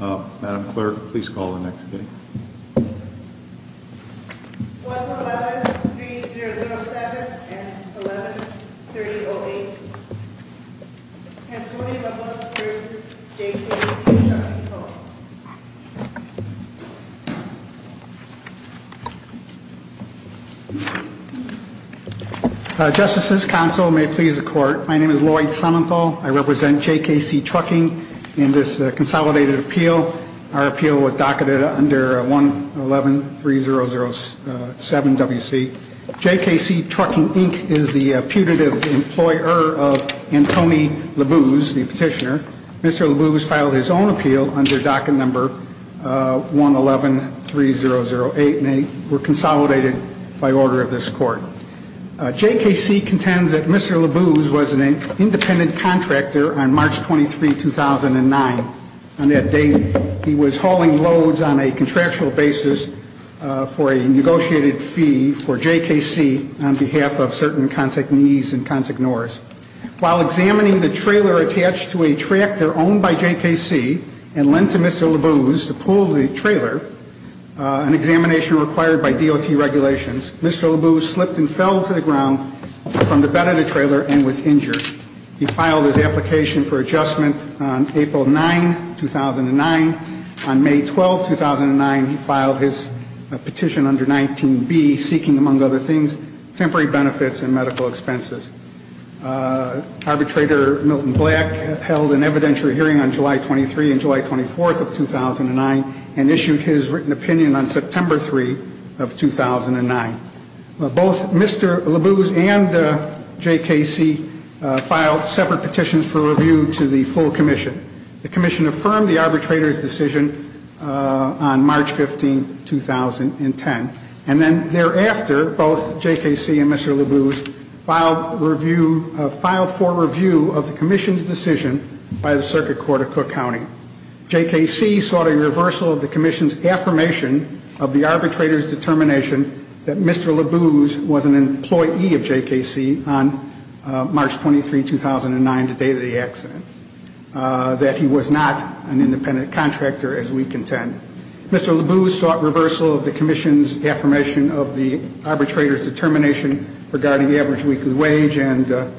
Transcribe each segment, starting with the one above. Madam Clerk, please call the next case. 111-3007 and 11-3008. Antonio Leblanc v. J.K.C. Trucking Co. Justices, Counsel, may it please the Court. My name is Lloyd Sonenthal. I represent J.K.C. Trucking in this consolidated appeal. Our appeal was docketed under 111-3007 W.C. J.K.C. Trucking, Inc. is the putative employer of Antonio Labuz, the petitioner. Mr. Labuz filed his own appeal under docket number 111-3008 and they were consolidated by order of this Court. J.K.C. contends that Mr. Labuz was an independent contractor on March 23, 2009. On that date, he was hauling loads on a contractual basis for a negotiated fee for J.K.C. on behalf of certain consignees and consignors. While examining the trailer attached to a tractor owned by J.K.C. and lent to Mr. Labuz to pull the trailer, an examination required by DOT regulations, Mr. Labuz slipped and fell to the ground from the bed of the trailer and was injured. He filed his application for adjustment on April 9, 2009. On May 12, 2009, he filed his petition under 19B, seeking, among other things, temporary benefits and medical expenses. Arbitrator Milton Black held an evidentiary hearing on July 23 and July 24 of 2009 and issued his written opinion on September 3 of 2009. Both Mr. Labuz and J.K.C. filed separate petitions for review to the full commission. The commission affirmed the arbitrator's decision on March 15, 2010. And then thereafter, both J.K.C. and Mr. Labuz filed for review of the commission's decision by the Circuit Court of Cook County. J.K.C. sought a reversal of the commission's affirmation of the arbitrator's determination that Mr. Labuz was an employee of J.K.C. on March 23, 2009, the day of the accident, that he was not an independent contractor as we contend. Mr. Labuz sought reversal of the commission's affirmation of the arbitrator's determination regarding the average weekly wage and the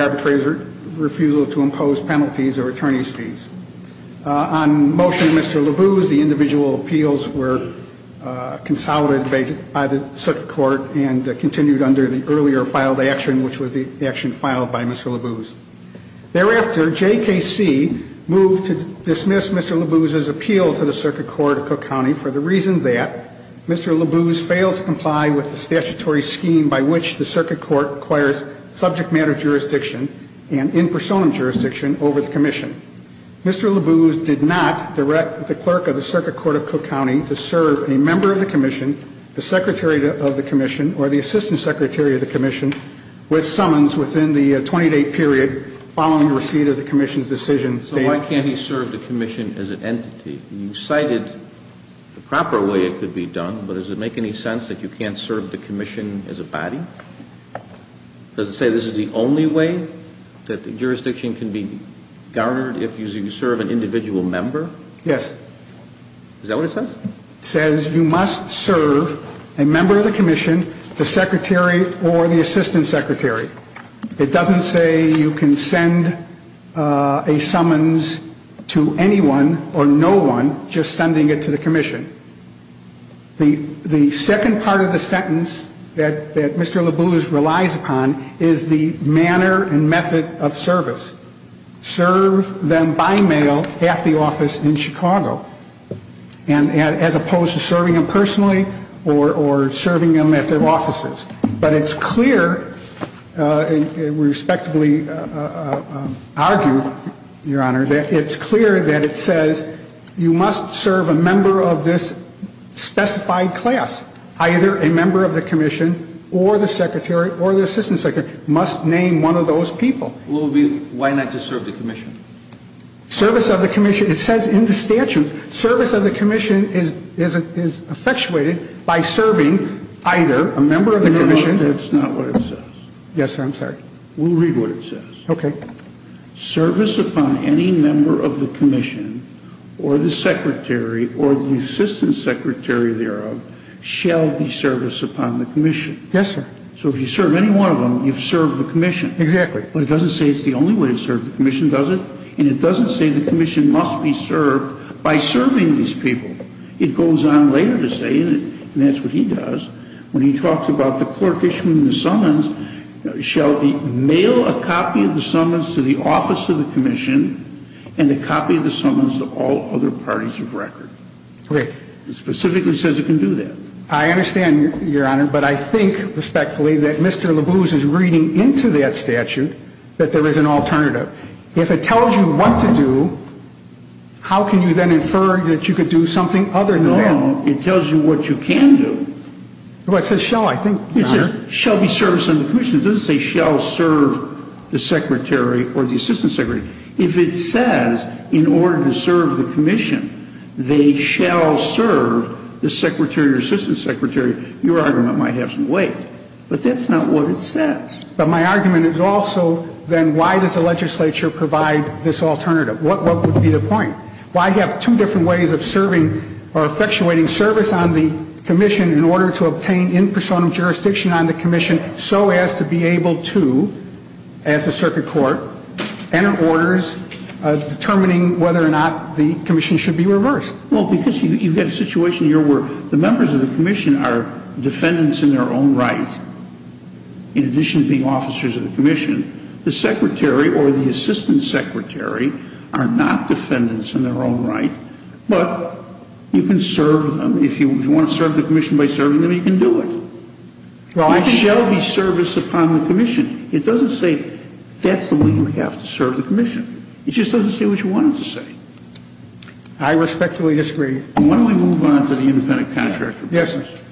arbitrator's refusal to impose penalties or attorney's fees. On motion of Mr. Labuz, the individual appeals were consolidated by the Circuit Court and continued under the earlier filed action, which was the action filed by Mr. Labuz. Thereafter, J.K.C. moved to dismiss Mr. Labuz's appeal to the Circuit Court of Cook County for the reason that Mr. Labuz failed to comply with the statutory scheme by which the Circuit Court requires subject matter jurisdiction and in personam jurisdiction over the commission. Mr. Labuz did not direct the clerk of the Circuit Court of Cook County to serve a member of the commission, the secretary of the commission, or the assistant secretary of the commission with summons within the 20-day period following receipt of the commission's decision. So why can't he serve the commission as an entity? You cited the proper way it could be done, but does it make any sense that you can't serve the commission as a body? Does it say this is the only way that the jurisdiction can be guarded if you serve an individual member? Yes. Is that what it says? It says you must serve a member of the commission, the secretary, or the assistant secretary. It doesn't say you can send a summons to anyone or no one just sending it to the commission. The second part of the sentence that Mr. Labuz relies upon is the manner and method of service. Serve them by mail at the office in Chicago as opposed to serving them personally or serving them at their offices. But it's clear, and we respectively argue, Your Honor, that it's clear that it says you must serve a member of this specified class. Either a member of the commission or the secretary or the assistant secretary must name one of those people. Why not just serve the commission? Service of the commission. It says in the statute service of the commission is effectuated by serving either a member of the commission. That's not what it says. Yes, sir. I'm sorry. We'll read what it says. Okay. Service upon any member of the commission or the secretary or the assistant secretary thereof shall be service upon the commission. Yes, sir. So if you serve any one of them, you've served the commission. Exactly. But it doesn't say it's the only way to serve the commission, does it? And it doesn't say the commission must be served by serving these people. It goes on later to say, and that's what he does, when he talks about the clerk issuing the summons, shall be mail a copy of the summons to the office of the commission and a copy of the summons to all other parties of record. Right. It specifically says it can do that. I understand, Your Honor, but I think respectfully that Mr. Labuse is reading into that statute that there is an alternative. If it tells you what to do, how can you then infer that you could do something other than that? No. It tells you what you can do. Well, it says shall, I think, Your Honor. It says shall be service on the commission. It doesn't say shall serve the secretary or the assistant secretary. If it says in order to serve the commission, they shall serve the secretary or assistant secretary, your argument might have some weight. But that's not what it says. But my argument is also then why does the legislature provide this alternative? What would be the point? Why have two different ways of serving or effectuating service on the commission in order to obtain in personam jurisdiction on the commission and so as to be able to, as a circuit court, enter orders determining whether or not the commission should be reversed? Well, because you get a situation here where the members of the commission are defendants in their own right, in addition to being officers of the commission. The secretary or the assistant secretary are not defendants in their own right, but you can serve them. If you want to serve the commission by serving them, you can do it. Well, I think It shall be service upon the commission. It doesn't say that's the way you have to serve the commission. It just doesn't say what you want it to say. I respectfully disagree. Why don't we move on to the independent contract? Yes, sir.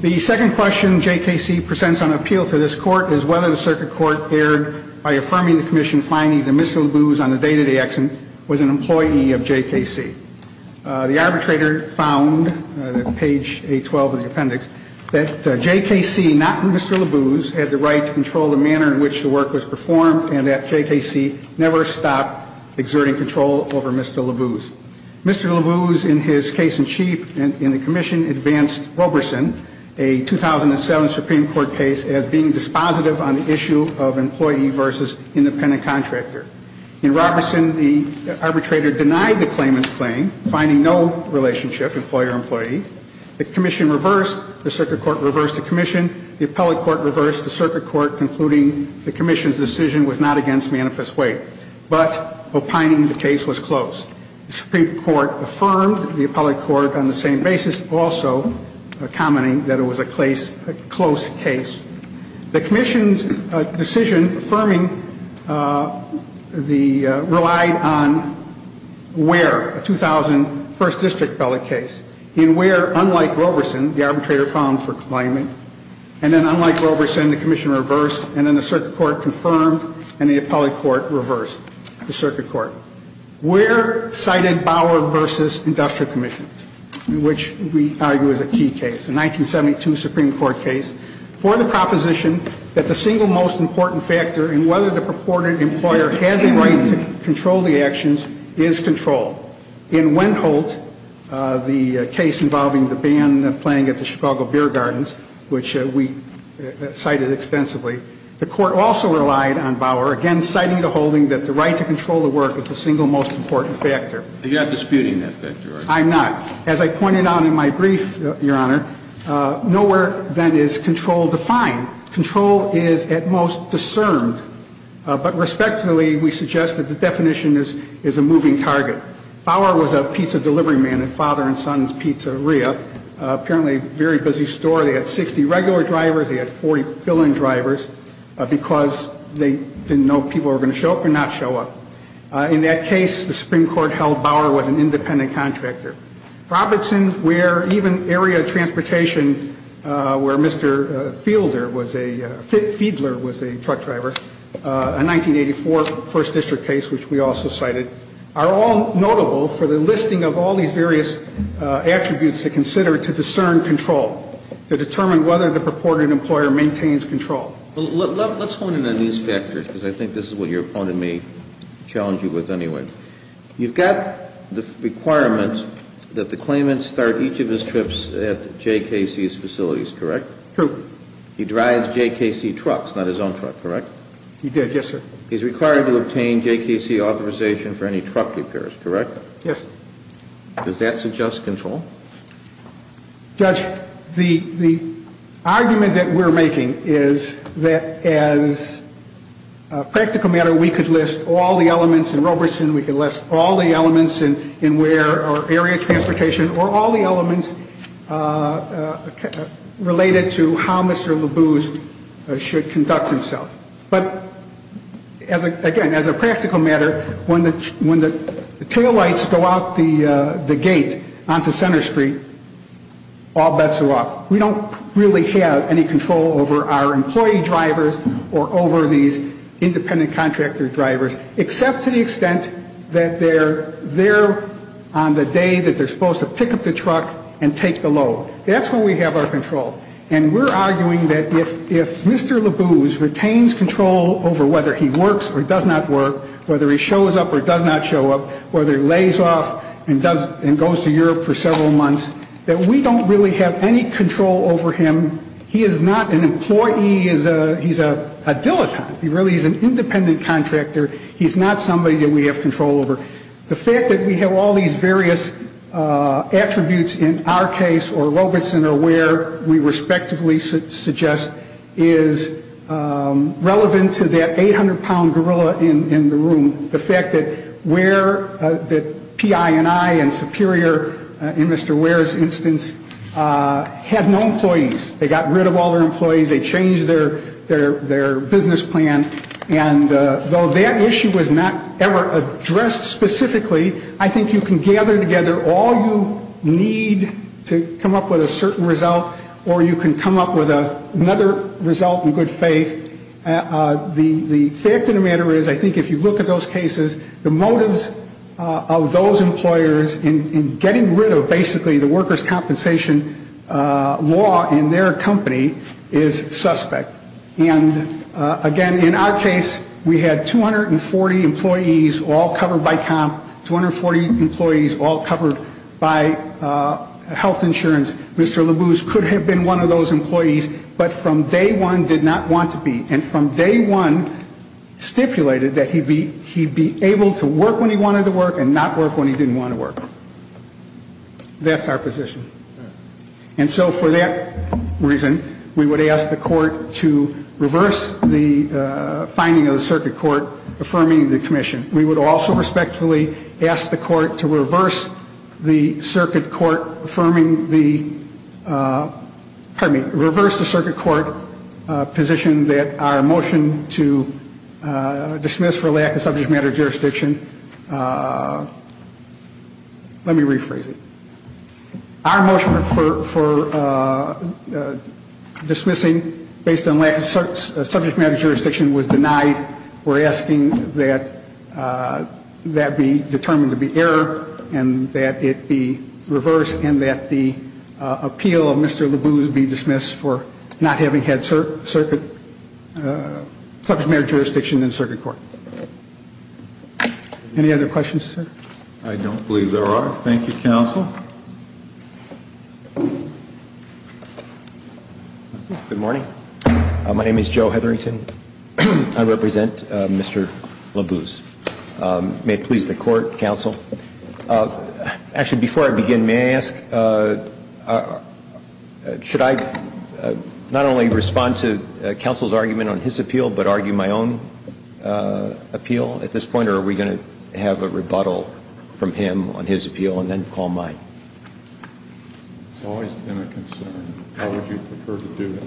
The second question JKC presents on appeal to this court is whether the circuit court erred by affirming the commission finding that Mr. LaBuz on a day-to-day accident was an employee of JKC. The arbitrator found, page 812 of the appendix, that JKC, not Mr. LaBuz, had the right to control the manner in which the work was performed and that JKC never stopped exerting control over Mr. LaBuz. Mr. LaBuz, in his case in chief in the commission, advanced Roberson, a 2007 Supreme Court case, as being dispositive on the issue of employee versus independent contractor. In Roberson, the arbitrator denied the claimant's claim, finding no relationship, employer-employee. The commission reversed. The circuit court reversed the commission. The appellate court reversed. The circuit court concluding the commission's decision was not against manifest weight, but opining the case was close. The Supreme Court affirmed. The appellate court, on the same basis, also commenting that it was a close case. The commission's decision affirming the, relied on where, a 2000 First District appellate case, in where, unlike Roberson, the arbitrator found for claimant, and then unlike Roberson, the commission reversed, and then the circuit court confirmed, and the appellate court reversed the circuit court. Where cited Bauer versus Industrial Commission, which we argue is a key case, a 1972 Supreme Court case. For the proposition that the single most important factor in whether the purported employer has a right to control the actions is control. In Wentholt, the case involving the ban playing at the Chicago Beer Gardens, which we cited extensively, the court also relied on Bauer, again citing the holding that the right to control the work is the single most important factor. You're not disputing that factor, are you? I'm not. As I pointed out in my brief, Your Honor, nowhere, then, is control defined. Control is, at most, discerned, but respectfully, we suggest that the definition is a moving target. Bauer was a pizza delivery man at Father and Son's Pizzeria, apparently a very busy store. They had 60 regular drivers. They had 40 fill-in drivers because they didn't know if people were going to show up or not show up. In that case, the Supreme Court held Bauer was an independent contractor. Robertson, Ware, even area transportation, where Mr. Fiedler was a truck driver, a 1984 First District case, which we also cited, are all notable for the listing of all these various attributes to consider to discern control, to determine whether the purported employer maintains control. Let's hone in on these factors, because I think this is what your opponent may challenge you with anyway. You've got the requirement that the claimant start each of his trips at J.K.C.'s facilities, correct? True. He drives J.K.C. trucks, not his own truck, correct? He did, yes, sir. He's required to obtain J.K.C. authorization for any truck repairs, correct? Yes. Does that suggest control? Judge, the argument that we're making is that as a practical matter, we could list all the elements in Robertson, we could list all the elements in Ware or area transportation, or all the elements related to how Mr. LeBou should conduct himself. But again, as a practical matter, when the taillights go out the gate onto Center Street, all bets are off. We don't really have any control over our employee drivers or over these independent contractor drivers, except to the extent that they're there on the day that they're supposed to pick up the truck and take the load. That's when we have our control. And we're arguing that if Mr. LeBou retains control over whether he works or does not work, whether he shows up or does not show up, whether he lays off and goes to Europe for several months, that we don't really have any control over him. He is not an employee. He's a dilettante. He really is an independent contractor. He's not somebody that we have control over. The fact that we have all these various attributes in our case, or Robertson or Ware, we respectively suggest, is relevant to that 800-pound gorilla in the room. The fact that Ware, that PINI and Superior, in Mr. Ware's instance, had no employees. They got rid of all their employees. They changed their business plan. And though that issue was not ever addressed specifically, I think you can gather together all you need to come up with a certain result, or you can come up with another result in good faith. The fact of the matter is, I think if you look at those cases, the motives of those employers in getting rid of basically the workers' compensation law in their company is suspect. And, again, in our case, we had 240 employees all covered by COMP, 240 employees all covered by health insurance. Mr. Labuse could have been one of those employees, but from day one did not want to be. And from day one stipulated that he'd be able to work when he wanted to work and not work when he didn't want to work. That's our position. And so for that reason, we would ask the court to reverse the finding of the circuit court affirming the commission. We would also respectfully ask the court to reverse the circuit court affirming the, pardon me, reverse the circuit court position that our motion to dismiss for lack of subject matter jurisdiction, let me rephrase it. Our motion for dismissing based on lack of subject matter jurisdiction was denied. We're asking that that be determined to be error and that it be reversed and that the appeal of Mr. Labuse be dismissed for not having had subject matter jurisdiction in circuit court. Any other questions, sir? I don't believe there are. Thank you, counsel. Good morning. My name is Joe Hetherington. I represent Mr. Labuse. May it please the court, counsel. Actually, before I begin, may I ask, should I not only respond to counsel's argument on his appeal, but argue my own appeal at this point? Or are we going to have a rebuttal from him on his appeal and then call mine? It's always been a concern. How would you prefer to do it?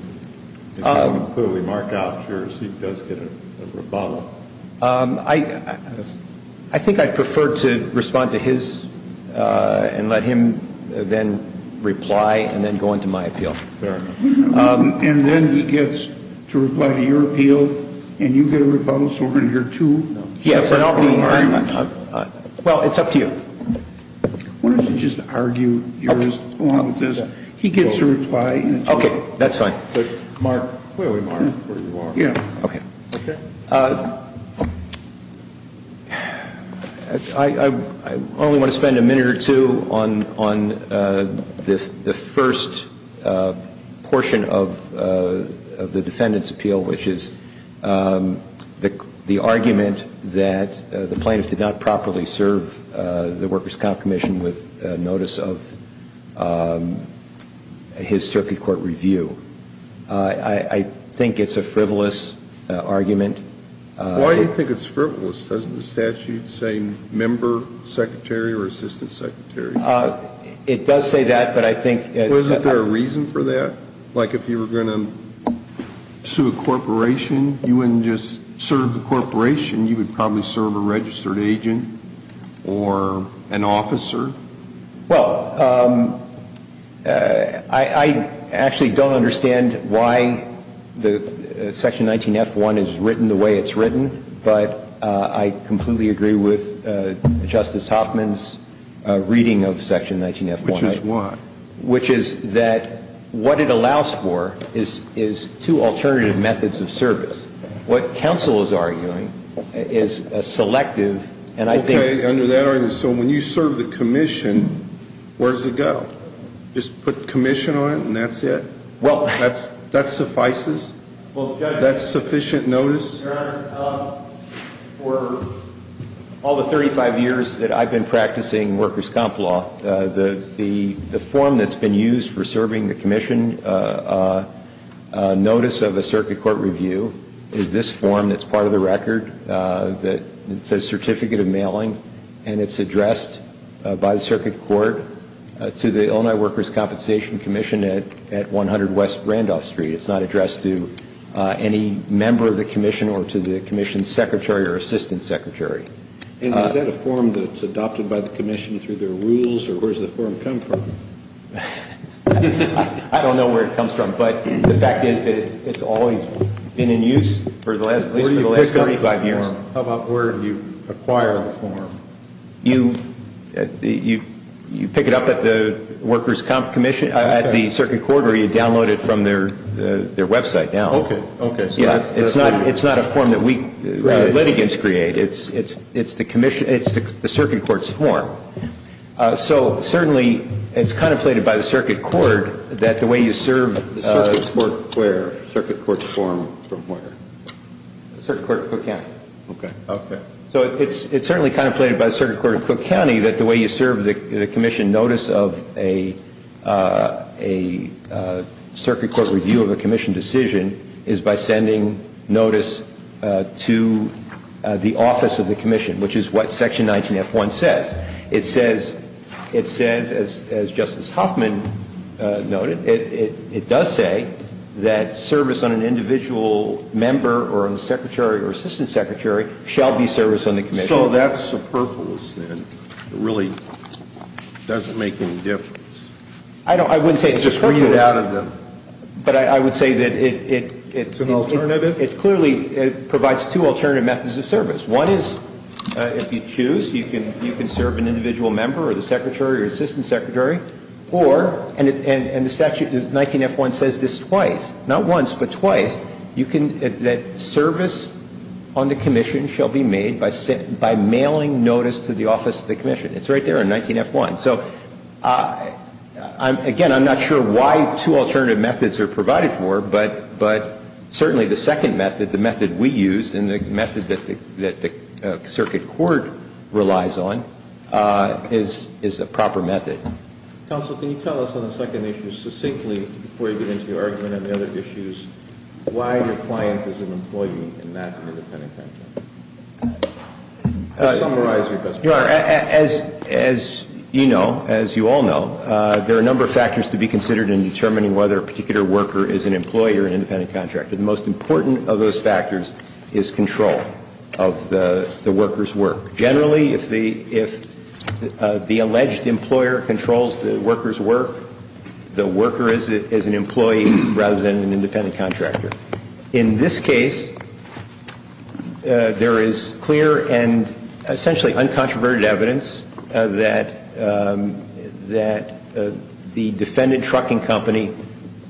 If you can clearly mark out yours, he does get a rebuttal. I think I'd prefer to respond to his and let him then reply and then go into my appeal. Fair enough. And then he gets to reply to your appeal, and you get a rebuttal, so we're going to hear two separate arguments. Well, it's up to you. Why don't you just argue yours along with this? He gets to reply. Okay. That's fine. Mark. Yeah. Okay. Okay. I only want to spend a minute or two on the first portion of the defendant's appeal, which is the argument that the plaintiff did not properly serve the workers' comp commission with notice of his circuit court review. I think it's a frivolous argument. Why do you think it's frivolous? Doesn't the statute say member secretary or assistant secretary? It does say that, but I think — Wasn't there a reason for that? Like if you were going to sue a corporation, you wouldn't just serve the corporation. You would probably serve a registered agent or an officer. Well, I actually don't understand why the section 19F1 is written the way it's written, but I completely agree with Justice Hoffman's reading of section 19F1. Which is what? Which is that what it allows for is two alternative methods of service. What counsel is arguing is a selective, and I think — Okay. Under that argument, so when you serve the commission, where does it go? Just put commission on it and that's it? Well — That suffices? Well, Judge — That's sufficient notice? Your Honor, for all the 35 years that I've been practicing workers' comp law, the form that's been used for serving the commission notice of a circuit court review is this form that's part of the record that says certificate of mailing, and it's addressed by the circuit court to the Illinois Workers' Compensation Commission at 100 West Randolph Street. It's not addressed to any member of the commission or to the commission's secretary or assistant secretary. And is that a form that's adopted by the commission through their rules, or where does the form come from? I don't know where it comes from, but the fact is that it's always been in use for the last 35 years. Where do you pick up the form? How about where you acquire the form? You pick it up at the Workers' Comp Commission, at the circuit court, or you download it from their website now. Okay. Okay. It's not a form that we litigants create. It's the circuit court's form. So certainly it's contemplated by the circuit court that the way you serve the commission notice of a circuit court review of a commission decision is by sending notice to the office of the commission, which is what Section 19F1 says. It says, as Justice Huffman noted, it does say that service on an individual member or on the secretary or assistant secretary shall be service on the commission. So that's superfluous, then. It really doesn't make any difference. I wouldn't say it's superfluous. Just read it out of them. But I would say that it clearly provides two alternative methods of service. One is if you choose, you can serve an individual member or the secretary or assistant secretary. Or, and the statute 19F1 says this twice, not once but twice, that service on the commission shall be made by mailing notice to the office of the commission. It's right there in 19F1. So, again, I'm not sure why two alternative methods are provided for. But certainly the second method, the method we use and the method that the circuit court relies on, is a proper method. Counsel, can you tell us on the second issue succinctly, before you get into your argument and the other issues, why your client is an employee and not an independent contractor? To summarize your question. Your Honor, as you know, as you all know, there are a number of factors to be considered in determining whether a particular worker is an employee or an independent contractor. The most important of those factors is control of the worker's work. Generally, if the alleged employer controls the worker's work, the worker is an employee rather than an independent contractor. In this case, there is clear and essentially uncontroverted evidence that the defendant trucking company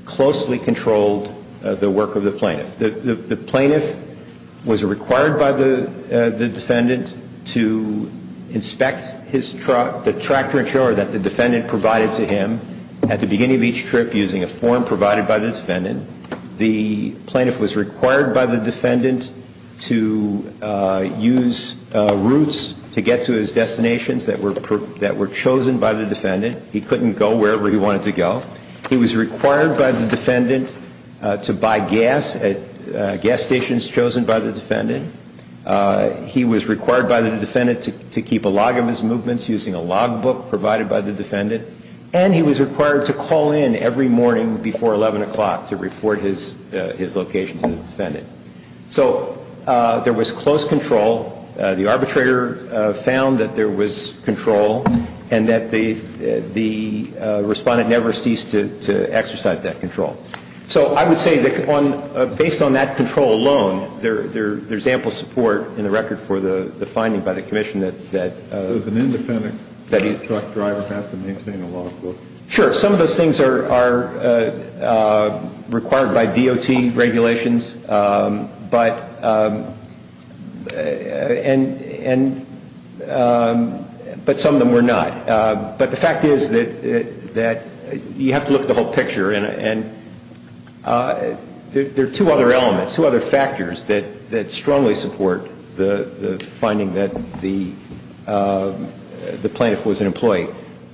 closely controlled the work of the plaintiff. The plaintiff was required by the defendant to inspect his truck, the tractor and trailer that the defendant provided to him at the beginning of each trip using a form provided by the defendant. The plaintiff was required by the defendant to use routes to get to his destinations that were chosen by the defendant. He couldn't go wherever he wanted to go. He was required by the defendant to buy gas at gas stations chosen by the defendant. He was required by the defendant to keep a log of his movements using a log book provided by the defendant. And he was required to call in every morning before 11 o'clock to report his location to the defendant. So there was close control. The arbitrator found that there was control and that the respondent never ceased to exercise that control. So I would say that based on that control alone, there's ample support in the record for the finding by the commission that... Sure, some of those things are required by DOT regulations, but some of them were not. But the fact is that you have to look at the whole picture and there are two other elements, two other factors that strongly support the finding that the plaintiff was an employee.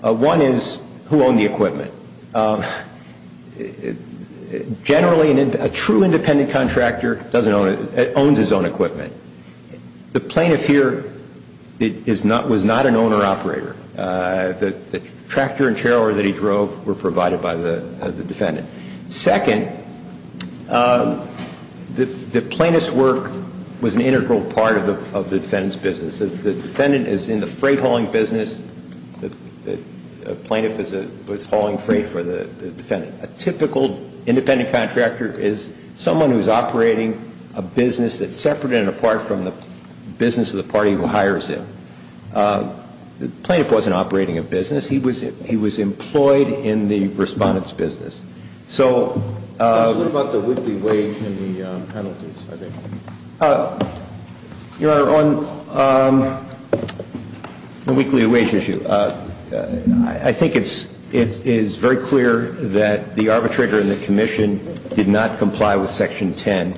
One is who owned the equipment. Generally, a true independent contractor owns his own equipment. The plaintiff here was not an owner-operator. The tractor and trailer that he drove were provided by the defendant. Second, the plaintiff's work was an integral part of the defendant's business. The defendant is in the freight hauling business. The plaintiff was hauling freight for the defendant. A typical independent contractor is someone who's operating a business that's separate and apart from the business of the party who hires him. The plaintiff wasn't operating a business. He was employed in the respondent's business. So... What about the whippy wage and the penalties, I think? Your Honor, on the weekly wage issue, I think it's very clear that the arbitrator and the commission did not comply with Section 10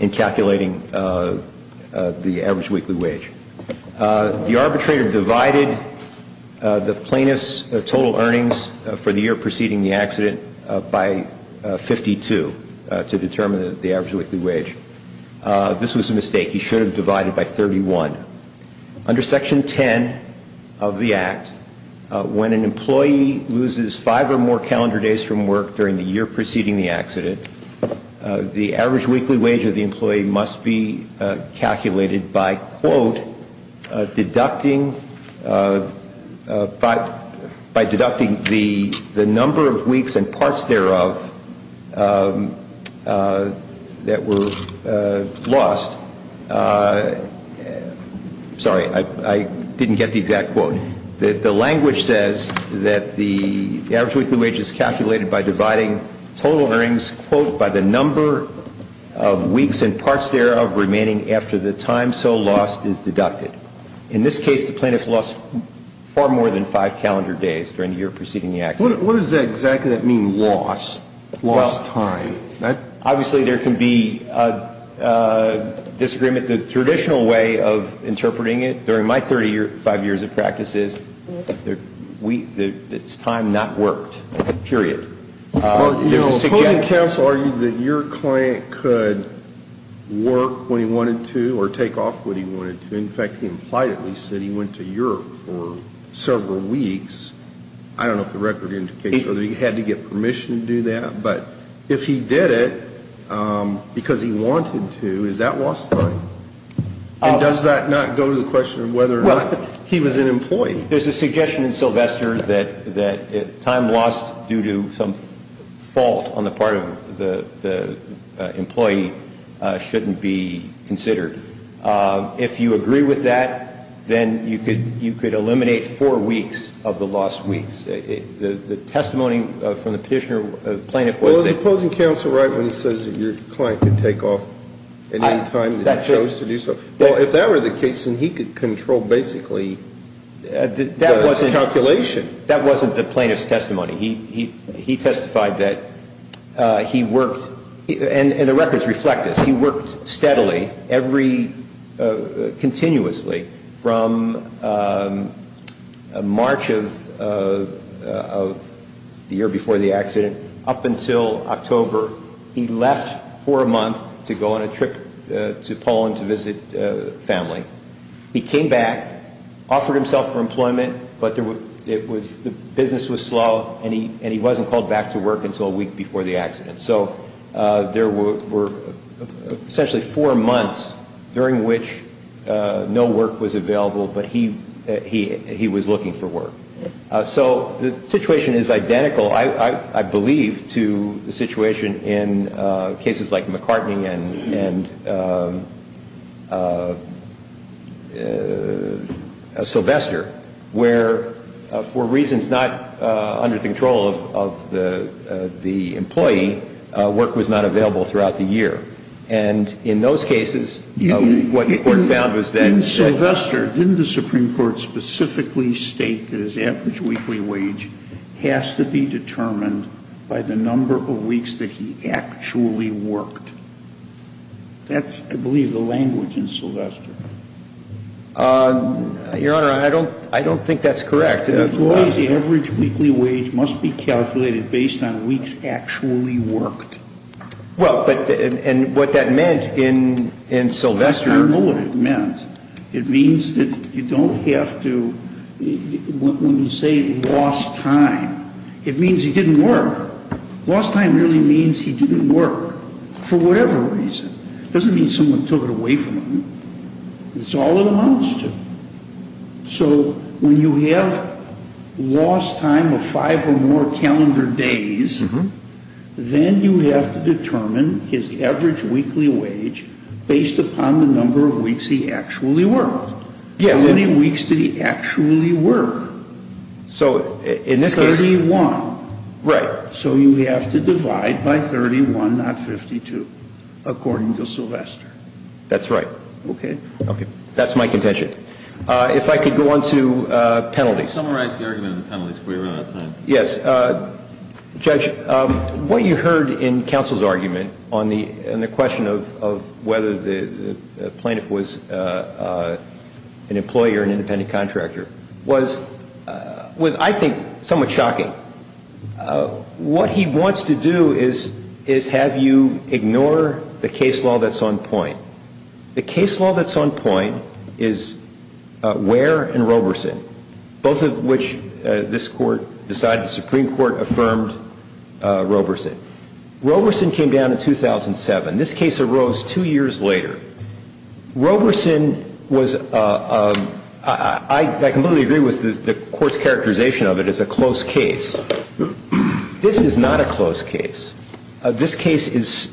in calculating the average weekly wage. The arbitrator divided the plaintiff's total earnings for the year preceding the accident by 52 to determine the average weekly wage. This was a mistake. He should have divided by 31. Under Section 10 of the Act, when an employee loses five or more calendar days from work during the year preceding the accident, the average weekly wage of the employee must be calculated by, quote, deducting the number of weeks and parts thereof that were lost. Sorry, I didn't get the exact quote. The language says that the average weekly wage is calculated by dividing total earnings, quote, by the number of weeks and parts thereof remaining after the time so lost is deducted. In this case, the plaintiff lost far more than five calendar days during the year preceding the accident. What does that exactly mean, lost, lost time? Obviously, there can be a disagreement. The traditional way of interpreting it during my 35 years of practice is it's time not worked, period. The opposing counsel argued that your client could work when he wanted to or take off when he wanted to. In fact, he implied at least that he went to Europe for several weeks. I don't know if the record indicates whether he had to get permission to do that. But if he did it because he wanted to, is that lost time? And does that not go to the question of whether or not he was an employee? There's a suggestion in Sylvester that time lost due to some fault on the part of the employee shouldn't be considered. If you agree with that, then you could eliminate four weeks of the lost weeks. The testimony from the petitioner plaintiff was that he was an employee. Well, is the opposing counsel right when he says that your client could take off at any time that he chose to do so? Well, if that were the case, then he could control basically the calculation. That wasn't the plaintiff's testimony. He testified that he worked, and the records reflect this. He worked steadily, continuously from March of the year before the accident up until October. He left for a month to go on a trip to Poland to visit family. He came back, offered himself for employment, but the business was slow, and he wasn't called back to work until a week before the accident. So there were essentially four months during which no work was available, but he was looking for work. So the situation is identical, I believe, to the situation in cases like McCartney and Sylvester, where for reasons not under the control of the employee, work was not available throughout the year. And in those cases, what the Court found was that the employee's average weekly wage was not equal to the number of weeks that he actually worked. That's, I believe, the language in Sylvester. Your Honor, I don't think that's correct. Employees' average weekly wage must be calculated based on weeks actually worked. Well, but, and what that meant in Sylvester. I don't know what it meant. It means that you don't have to, when you say lost time, it means he didn't work. Lost time really means he didn't work for whatever reason. It doesn't mean someone took it away from him. It's all it amounts to. So when you have lost time of five or more calendar days, then you have to determine his average weekly wage based upon the number of weeks he actually worked. Yes. How many weeks did he actually work? So in this case. 31. Right. So you have to divide by 31, not 52, according to Sylvester. That's right. Okay. That's my contention. If I could go on to penalties. Summarize the argument on the penalties before you run out of time. Yes. Judge, what you heard in counsel's argument on the question of whether the plaintiff was an employer or an independent contractor was, I think, somewhat shocking. What he wants to do is have you ignore the case law that's on point. The case law that's on point is Ware and Roberson, both of which this Court decided the Supreme Court affirmed Roberson. Roberson came down in 2007. This case arose two years later. Roberson was a – I completely agree with the Court's characterization of it as a close case. This is not a close case. This case is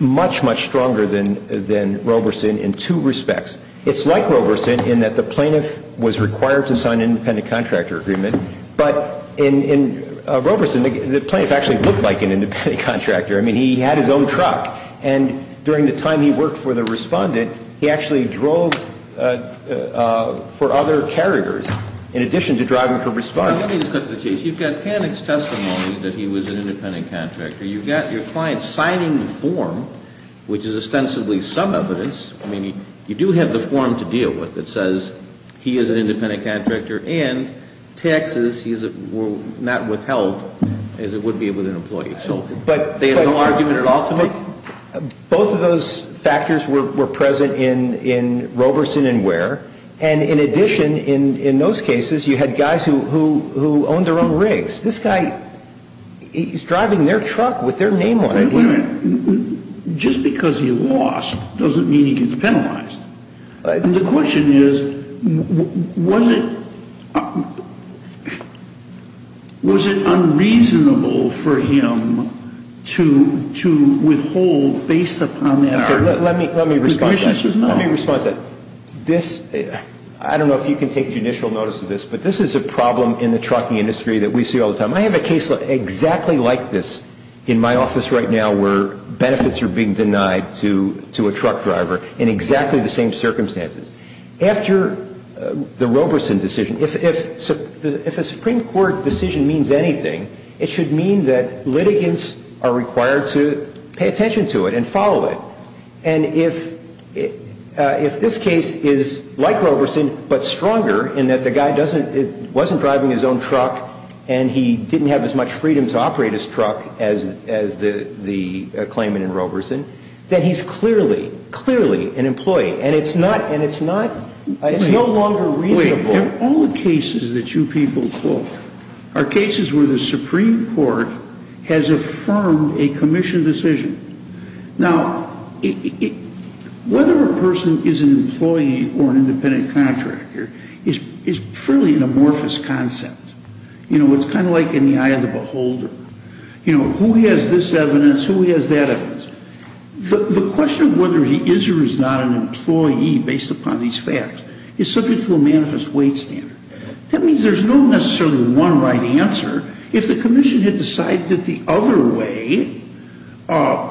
much, much stronger than Roberson in two respects. It's like Roberson in that the plaintiff was required to sign an independent contractor agreement. But in Roberson, the plaintiff actually looked like an independent contractor. I mean, he had his own truck. And during the time he worked for the Respondent, he actually drove for other carriers in addition to driving for Respondent. Let me discuss the case. You've got Panic's testimony that he was an independent contractor. You've got your client signing the form, which is ostensibly some evidence. I mean, you do have the form to deal with that says he is an independent contractor and taxes were not withheld as it would be with an employee. So they had no argument at all to make? I mean, you've got Panic's testimony that he was an independent contractor. And in addition, in those cases, you had guys who owned their own rigs. This guy, he's driving their truck with their name on it. Wait a minute. Just because he lost doesn't mean he gets penalized. The question is, was it unreasonable for him to withhold based upon that power? Let me respond to that. Let me respond to that. I don't know if you can take judicial notice of this, but this is a problem in the trucking industry that we see all the time. I have a case exactly like this in my office right now where benefits are being denied to a truck driver in exactly the same circumstances. After the Roberson decision, if a Supreme Court decision means anything, it should mean that litigants are required to pay attention to it and follow it. And if this case is like Roberson but stronger in that the guy wasn't driving his own truck and he didn't have as much freedom to operate his truck as the claimant in Roberson, then he's clearly, clearly an employee. And it's not no longer reasonable. All the cases that you people quote are cases where the Supreme Court has affirmed a commission decision. Now, whether a person is an employee or an independent contractor is fairly an amorphous concept. You know, it's kind of like in the eye of the beholder. You know, who has this evidence? Who has that evidence? The question of whether he is or is not an employee based upon these facts is subject to a manifest weight standard. That means there's no necessarily one right answer. If the commission had decided that the other way,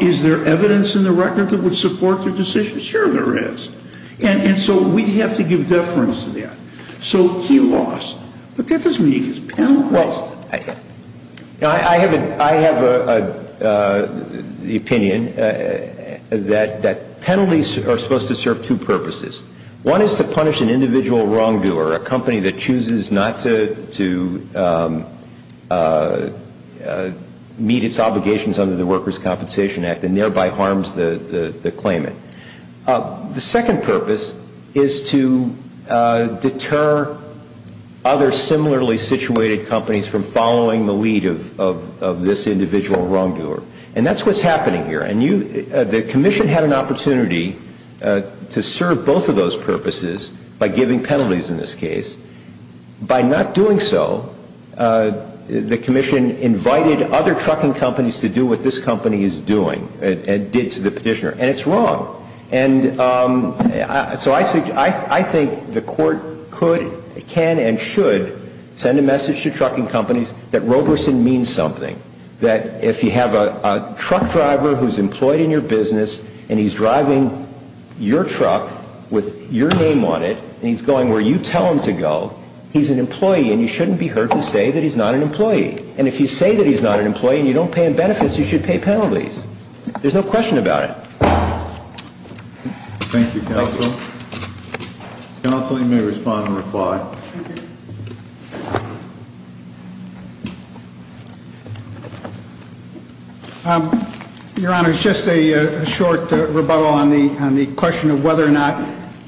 is there evidence in the record that would support their decision? Sure there is. And so we'd have to give deference to that. So he lost. But that doesn't mean he's penalized. I have an opinion that penalties are supposed to serve two purposes. One is to punish an individual wrongdoer, a company that chooses not to meet its obligations under the Workers' Compensation Act and thereby harms the claimant. The second purpose is to deter other similarly situated companies from following the lead of this individual wrongdoer. And that's what's happening here. And the commission had an opportunity to serve both of those purposes by giving penalties in this case. By not doing so, the commission invited other trucking companies to do what this company is doing and did to the petitioner. And it's wrong. And so I think the Court could, can and should send a message to trucking companies that Roberson means something. That if you have a truck driver who's employed in your business and he's driving your truck with your name on it and he's going where you tell him to go, he's an employee and you shouldn't be heard to say that he's not an employee. And if you say that he's not an employee and you don't pay him benefits, you should pay penalties. There's no question about it. Thank you, Counsel. Counsel, you may respond and reply. Your Honor, it's just a short rebuttal on the question of whether or not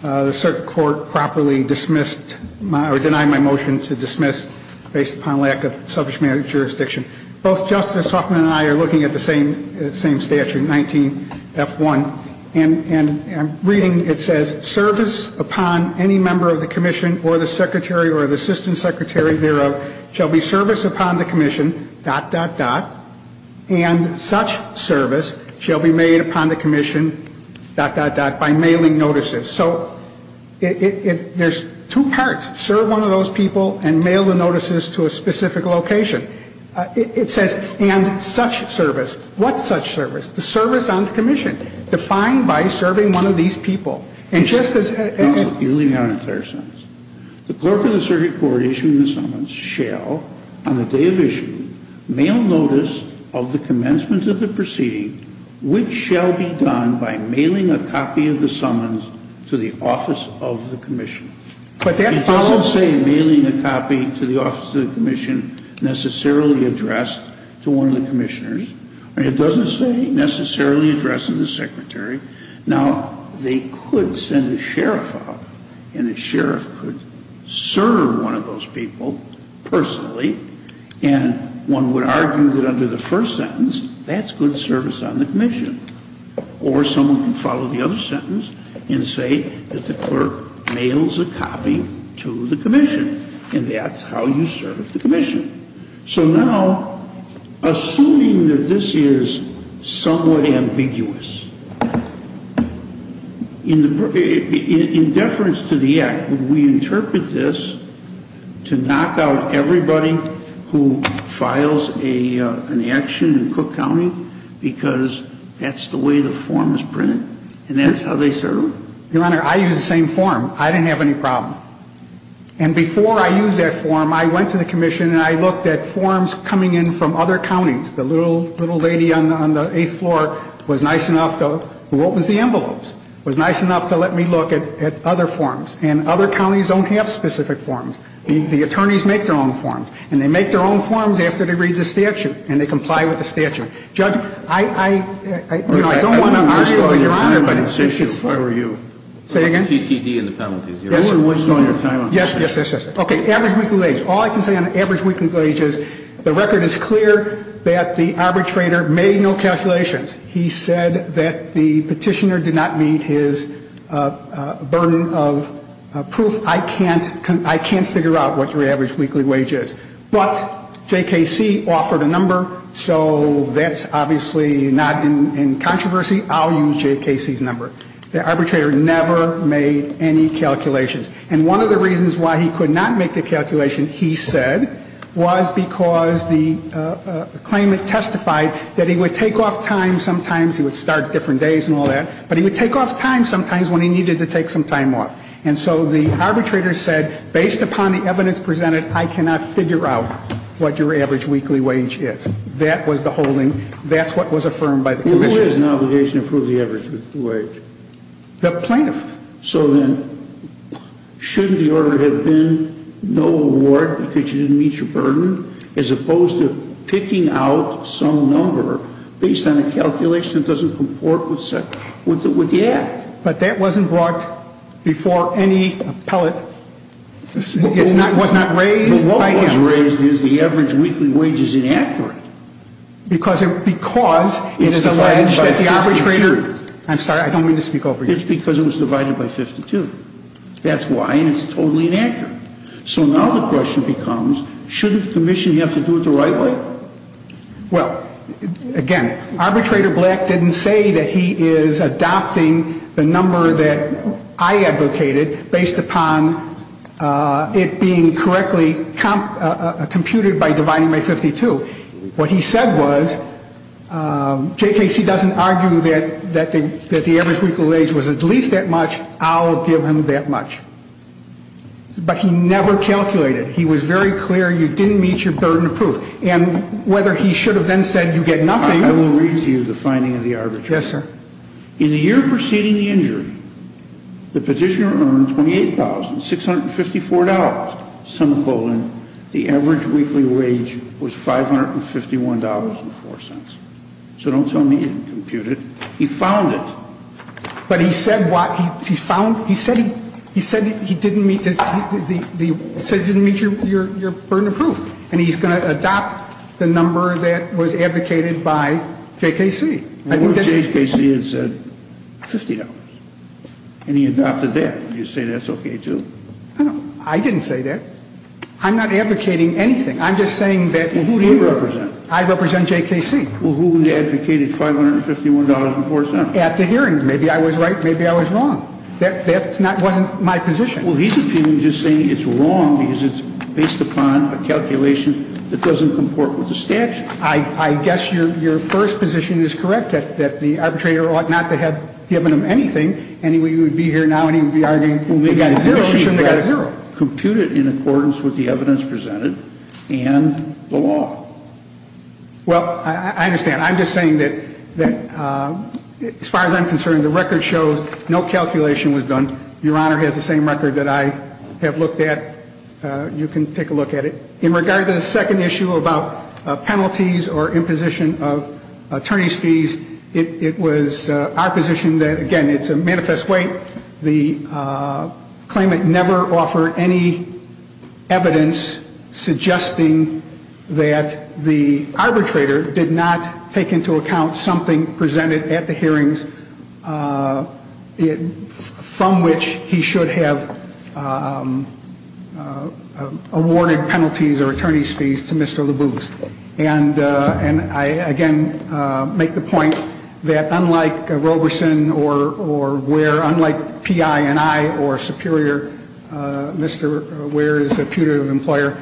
the circuit court properly dismissed or denied my motion to dismiss based upon lack of subject matter jurisdiction. Both Justice Hoffman and I are looking at the same statute, 19F1. And I'm reading, it says, service upon any member of the commission or the circuit court secretary or the assistant secretary thereof shall be service upon the commission, dot, dot, dot, and such service shall be made upon the commission, dot, dot, dot, by mailing notices. So there's two parts. Serve one of those people and mail the notices to a specific location. It says, and such service. What's such service? The service on the commission defined by serving one of these people. And Justice Hoffman. No, you're leaving out an entire sentence. The clerk of the circuit court issuing the summons shall, on the day of issuing, mail notice of the commencement of the proceeding which shall be done by mailing a copy of the summons to the office of the commission. But that follows. It doesn't say mailing a copy to the office of the commission necessarily addressed to one of the commissioners. It doesn't say necessarily addressing the secretary. Now, they could send a sheriff out, and a sheriff could serve one of those people personally, and one would argue that under the first sentence, that's good service on the commission. Or someone can follow the other sentence and say that the clerk mails a copy to the commission, and that's how you serve the commission. So now, assuming that this is somewhat ambiguous, in deference to the act, would we interpret this to knock out everybody who files an action in Cook County because that's the way the form is printed, and that's how they serve? Your Honor, I use the same form. I didn't have any problem. And before I used that form, I went to the commission and I looked at forms coming in from other counties. The little lady on the eighth floor was nice enough, who opens the envelopes, was nice enough to let me look at other forms. And other counties don't have specific forms. The attorneys make their own forms. And they make their own forms after they read the statute, and they comply with the statute. Judge, I don't want to mislead Your Honor, but if you could say again? Yes, Your Honor. Yes, yes, yes, yes. Okay, average weekly wage. All I can say on average weekly wage is the record is clear that the arbitrator made no calculations. He said that the petitioner did not meet his burden of proof. I can't figure out what your average weekly wage is. But JKC offered a number, so that's obviously not in controversy. I'll use JKC's number. The arbitrator never made any calculations. And one of the reasons why he could not make the calculation, he said, was because the claimant testified that he would take off time sometimes. He would start different days and all that. But he would take off time sometimes when he needed to take some time off. And so the arbitrator said, based upon the evidence presented, I cannot figure out what your average weekly wage is. That was the holding. That's what was affirmed by the commission. What is an obligation to prove the average weekly wage? The plaintiff. So then shouldn't the order have been no award because you didn't meet your burden, as opposed to picking out some number based on a calculation that doesn't comport with the act? But that wasn't brought before any appellate. It was not raised by him. But what was raised is the average weekly wage is inaccurate. Because it is alleged that the arbitrator. I'm sorry, I don't mean to speak over you. It's because it was divided by 52. That's why. And it's totally inaccurate. So now the question becomes, shouldn't the commission have to do it the right way? Well, again, arbitrator Black didn't say that he is adopting the number that I advocated based upon it being correctly computed by dividing by 52. So what he said was, J.K.C. doesn't argue that the average weekly wage was at least that much. I'll give him that much. But he never calculated. He was very clear you didn't meet your burden of proof. And whether he should have then said you get nothing. I will read to you the finding of the arbitrator. Yes, sir. In the year preceding the injury, the petitioner earned $28,654, the average weekly wage was $551.04. So don't tell me you didn't compute it. He found it. But he said he didn't meet your burden of proof. And he's going to adopt the number that was advocated by J.K.C. Well, J.K.C. had said $50. And he adopted that. You say that's okay, too? I didn't say that. I'm not advocating anything. I'm just saying that he wrote. Well, who do you represent? I represent J.K.C. Well, who had advocated $551.04? At the hearing. Maybe I was right. Maybe I was wrong. That wasn't my position. Well, he's appealing just saying it's wrong because it's based upon a calculation that doesn't comport with the statute. I guess your first position is correct, that the arbitrator ought not to have given him anything. And he would be here now and he would be arguing he shouldn't have gotten zero. Well, they got zero. They should have computed in accordance with the evidence presented and the law. Well, I understand. I'm just saying that as far as I'm concerned, the record shows no calculation was done. Your Honor has the same record that I have looked at. You can take a look at it. In regard to the second issue about penalties or imposition of attorney's fees, it was our position that, again, it's a manifest way. The claimant never offered any evidence suggesting that the arbitrator did not take into account something presented at the hearings from which he should have awarded penalties or attorney's fees to Mr. Leboeuf. And I, again, make the point that unlike Roberson or Ware, unlike P.I. and I or Superior, Mr. Ware is a putative employer,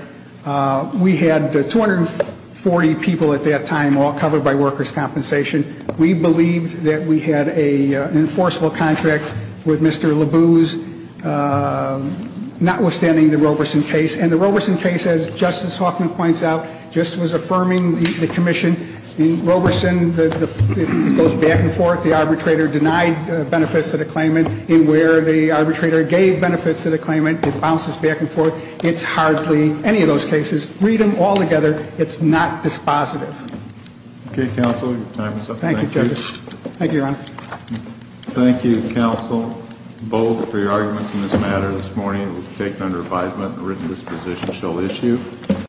we had 240 people at that time all covered by workers' compensation. We believed that we had an enforceable contract with Mr. Leboeuf, notwithstanding the Roberson case. And the Roberson case, as Justice Hoffman points out, just was affirming the commission. In Roberson, it goes back and forth. The arbitrator denied benefits to the claimant. In Ware, the arbitrator gave benefits to the claimant. It bounces back and forth. It's hardly any of those cases. Read them all together. It's not dispositive. Okay, counsel. Your time is up. Thank you. Thank you, Your Honor. Thank you, counsel, both, for your arguments in this matter. This morning it was taken under advisement and written disposition shall issue.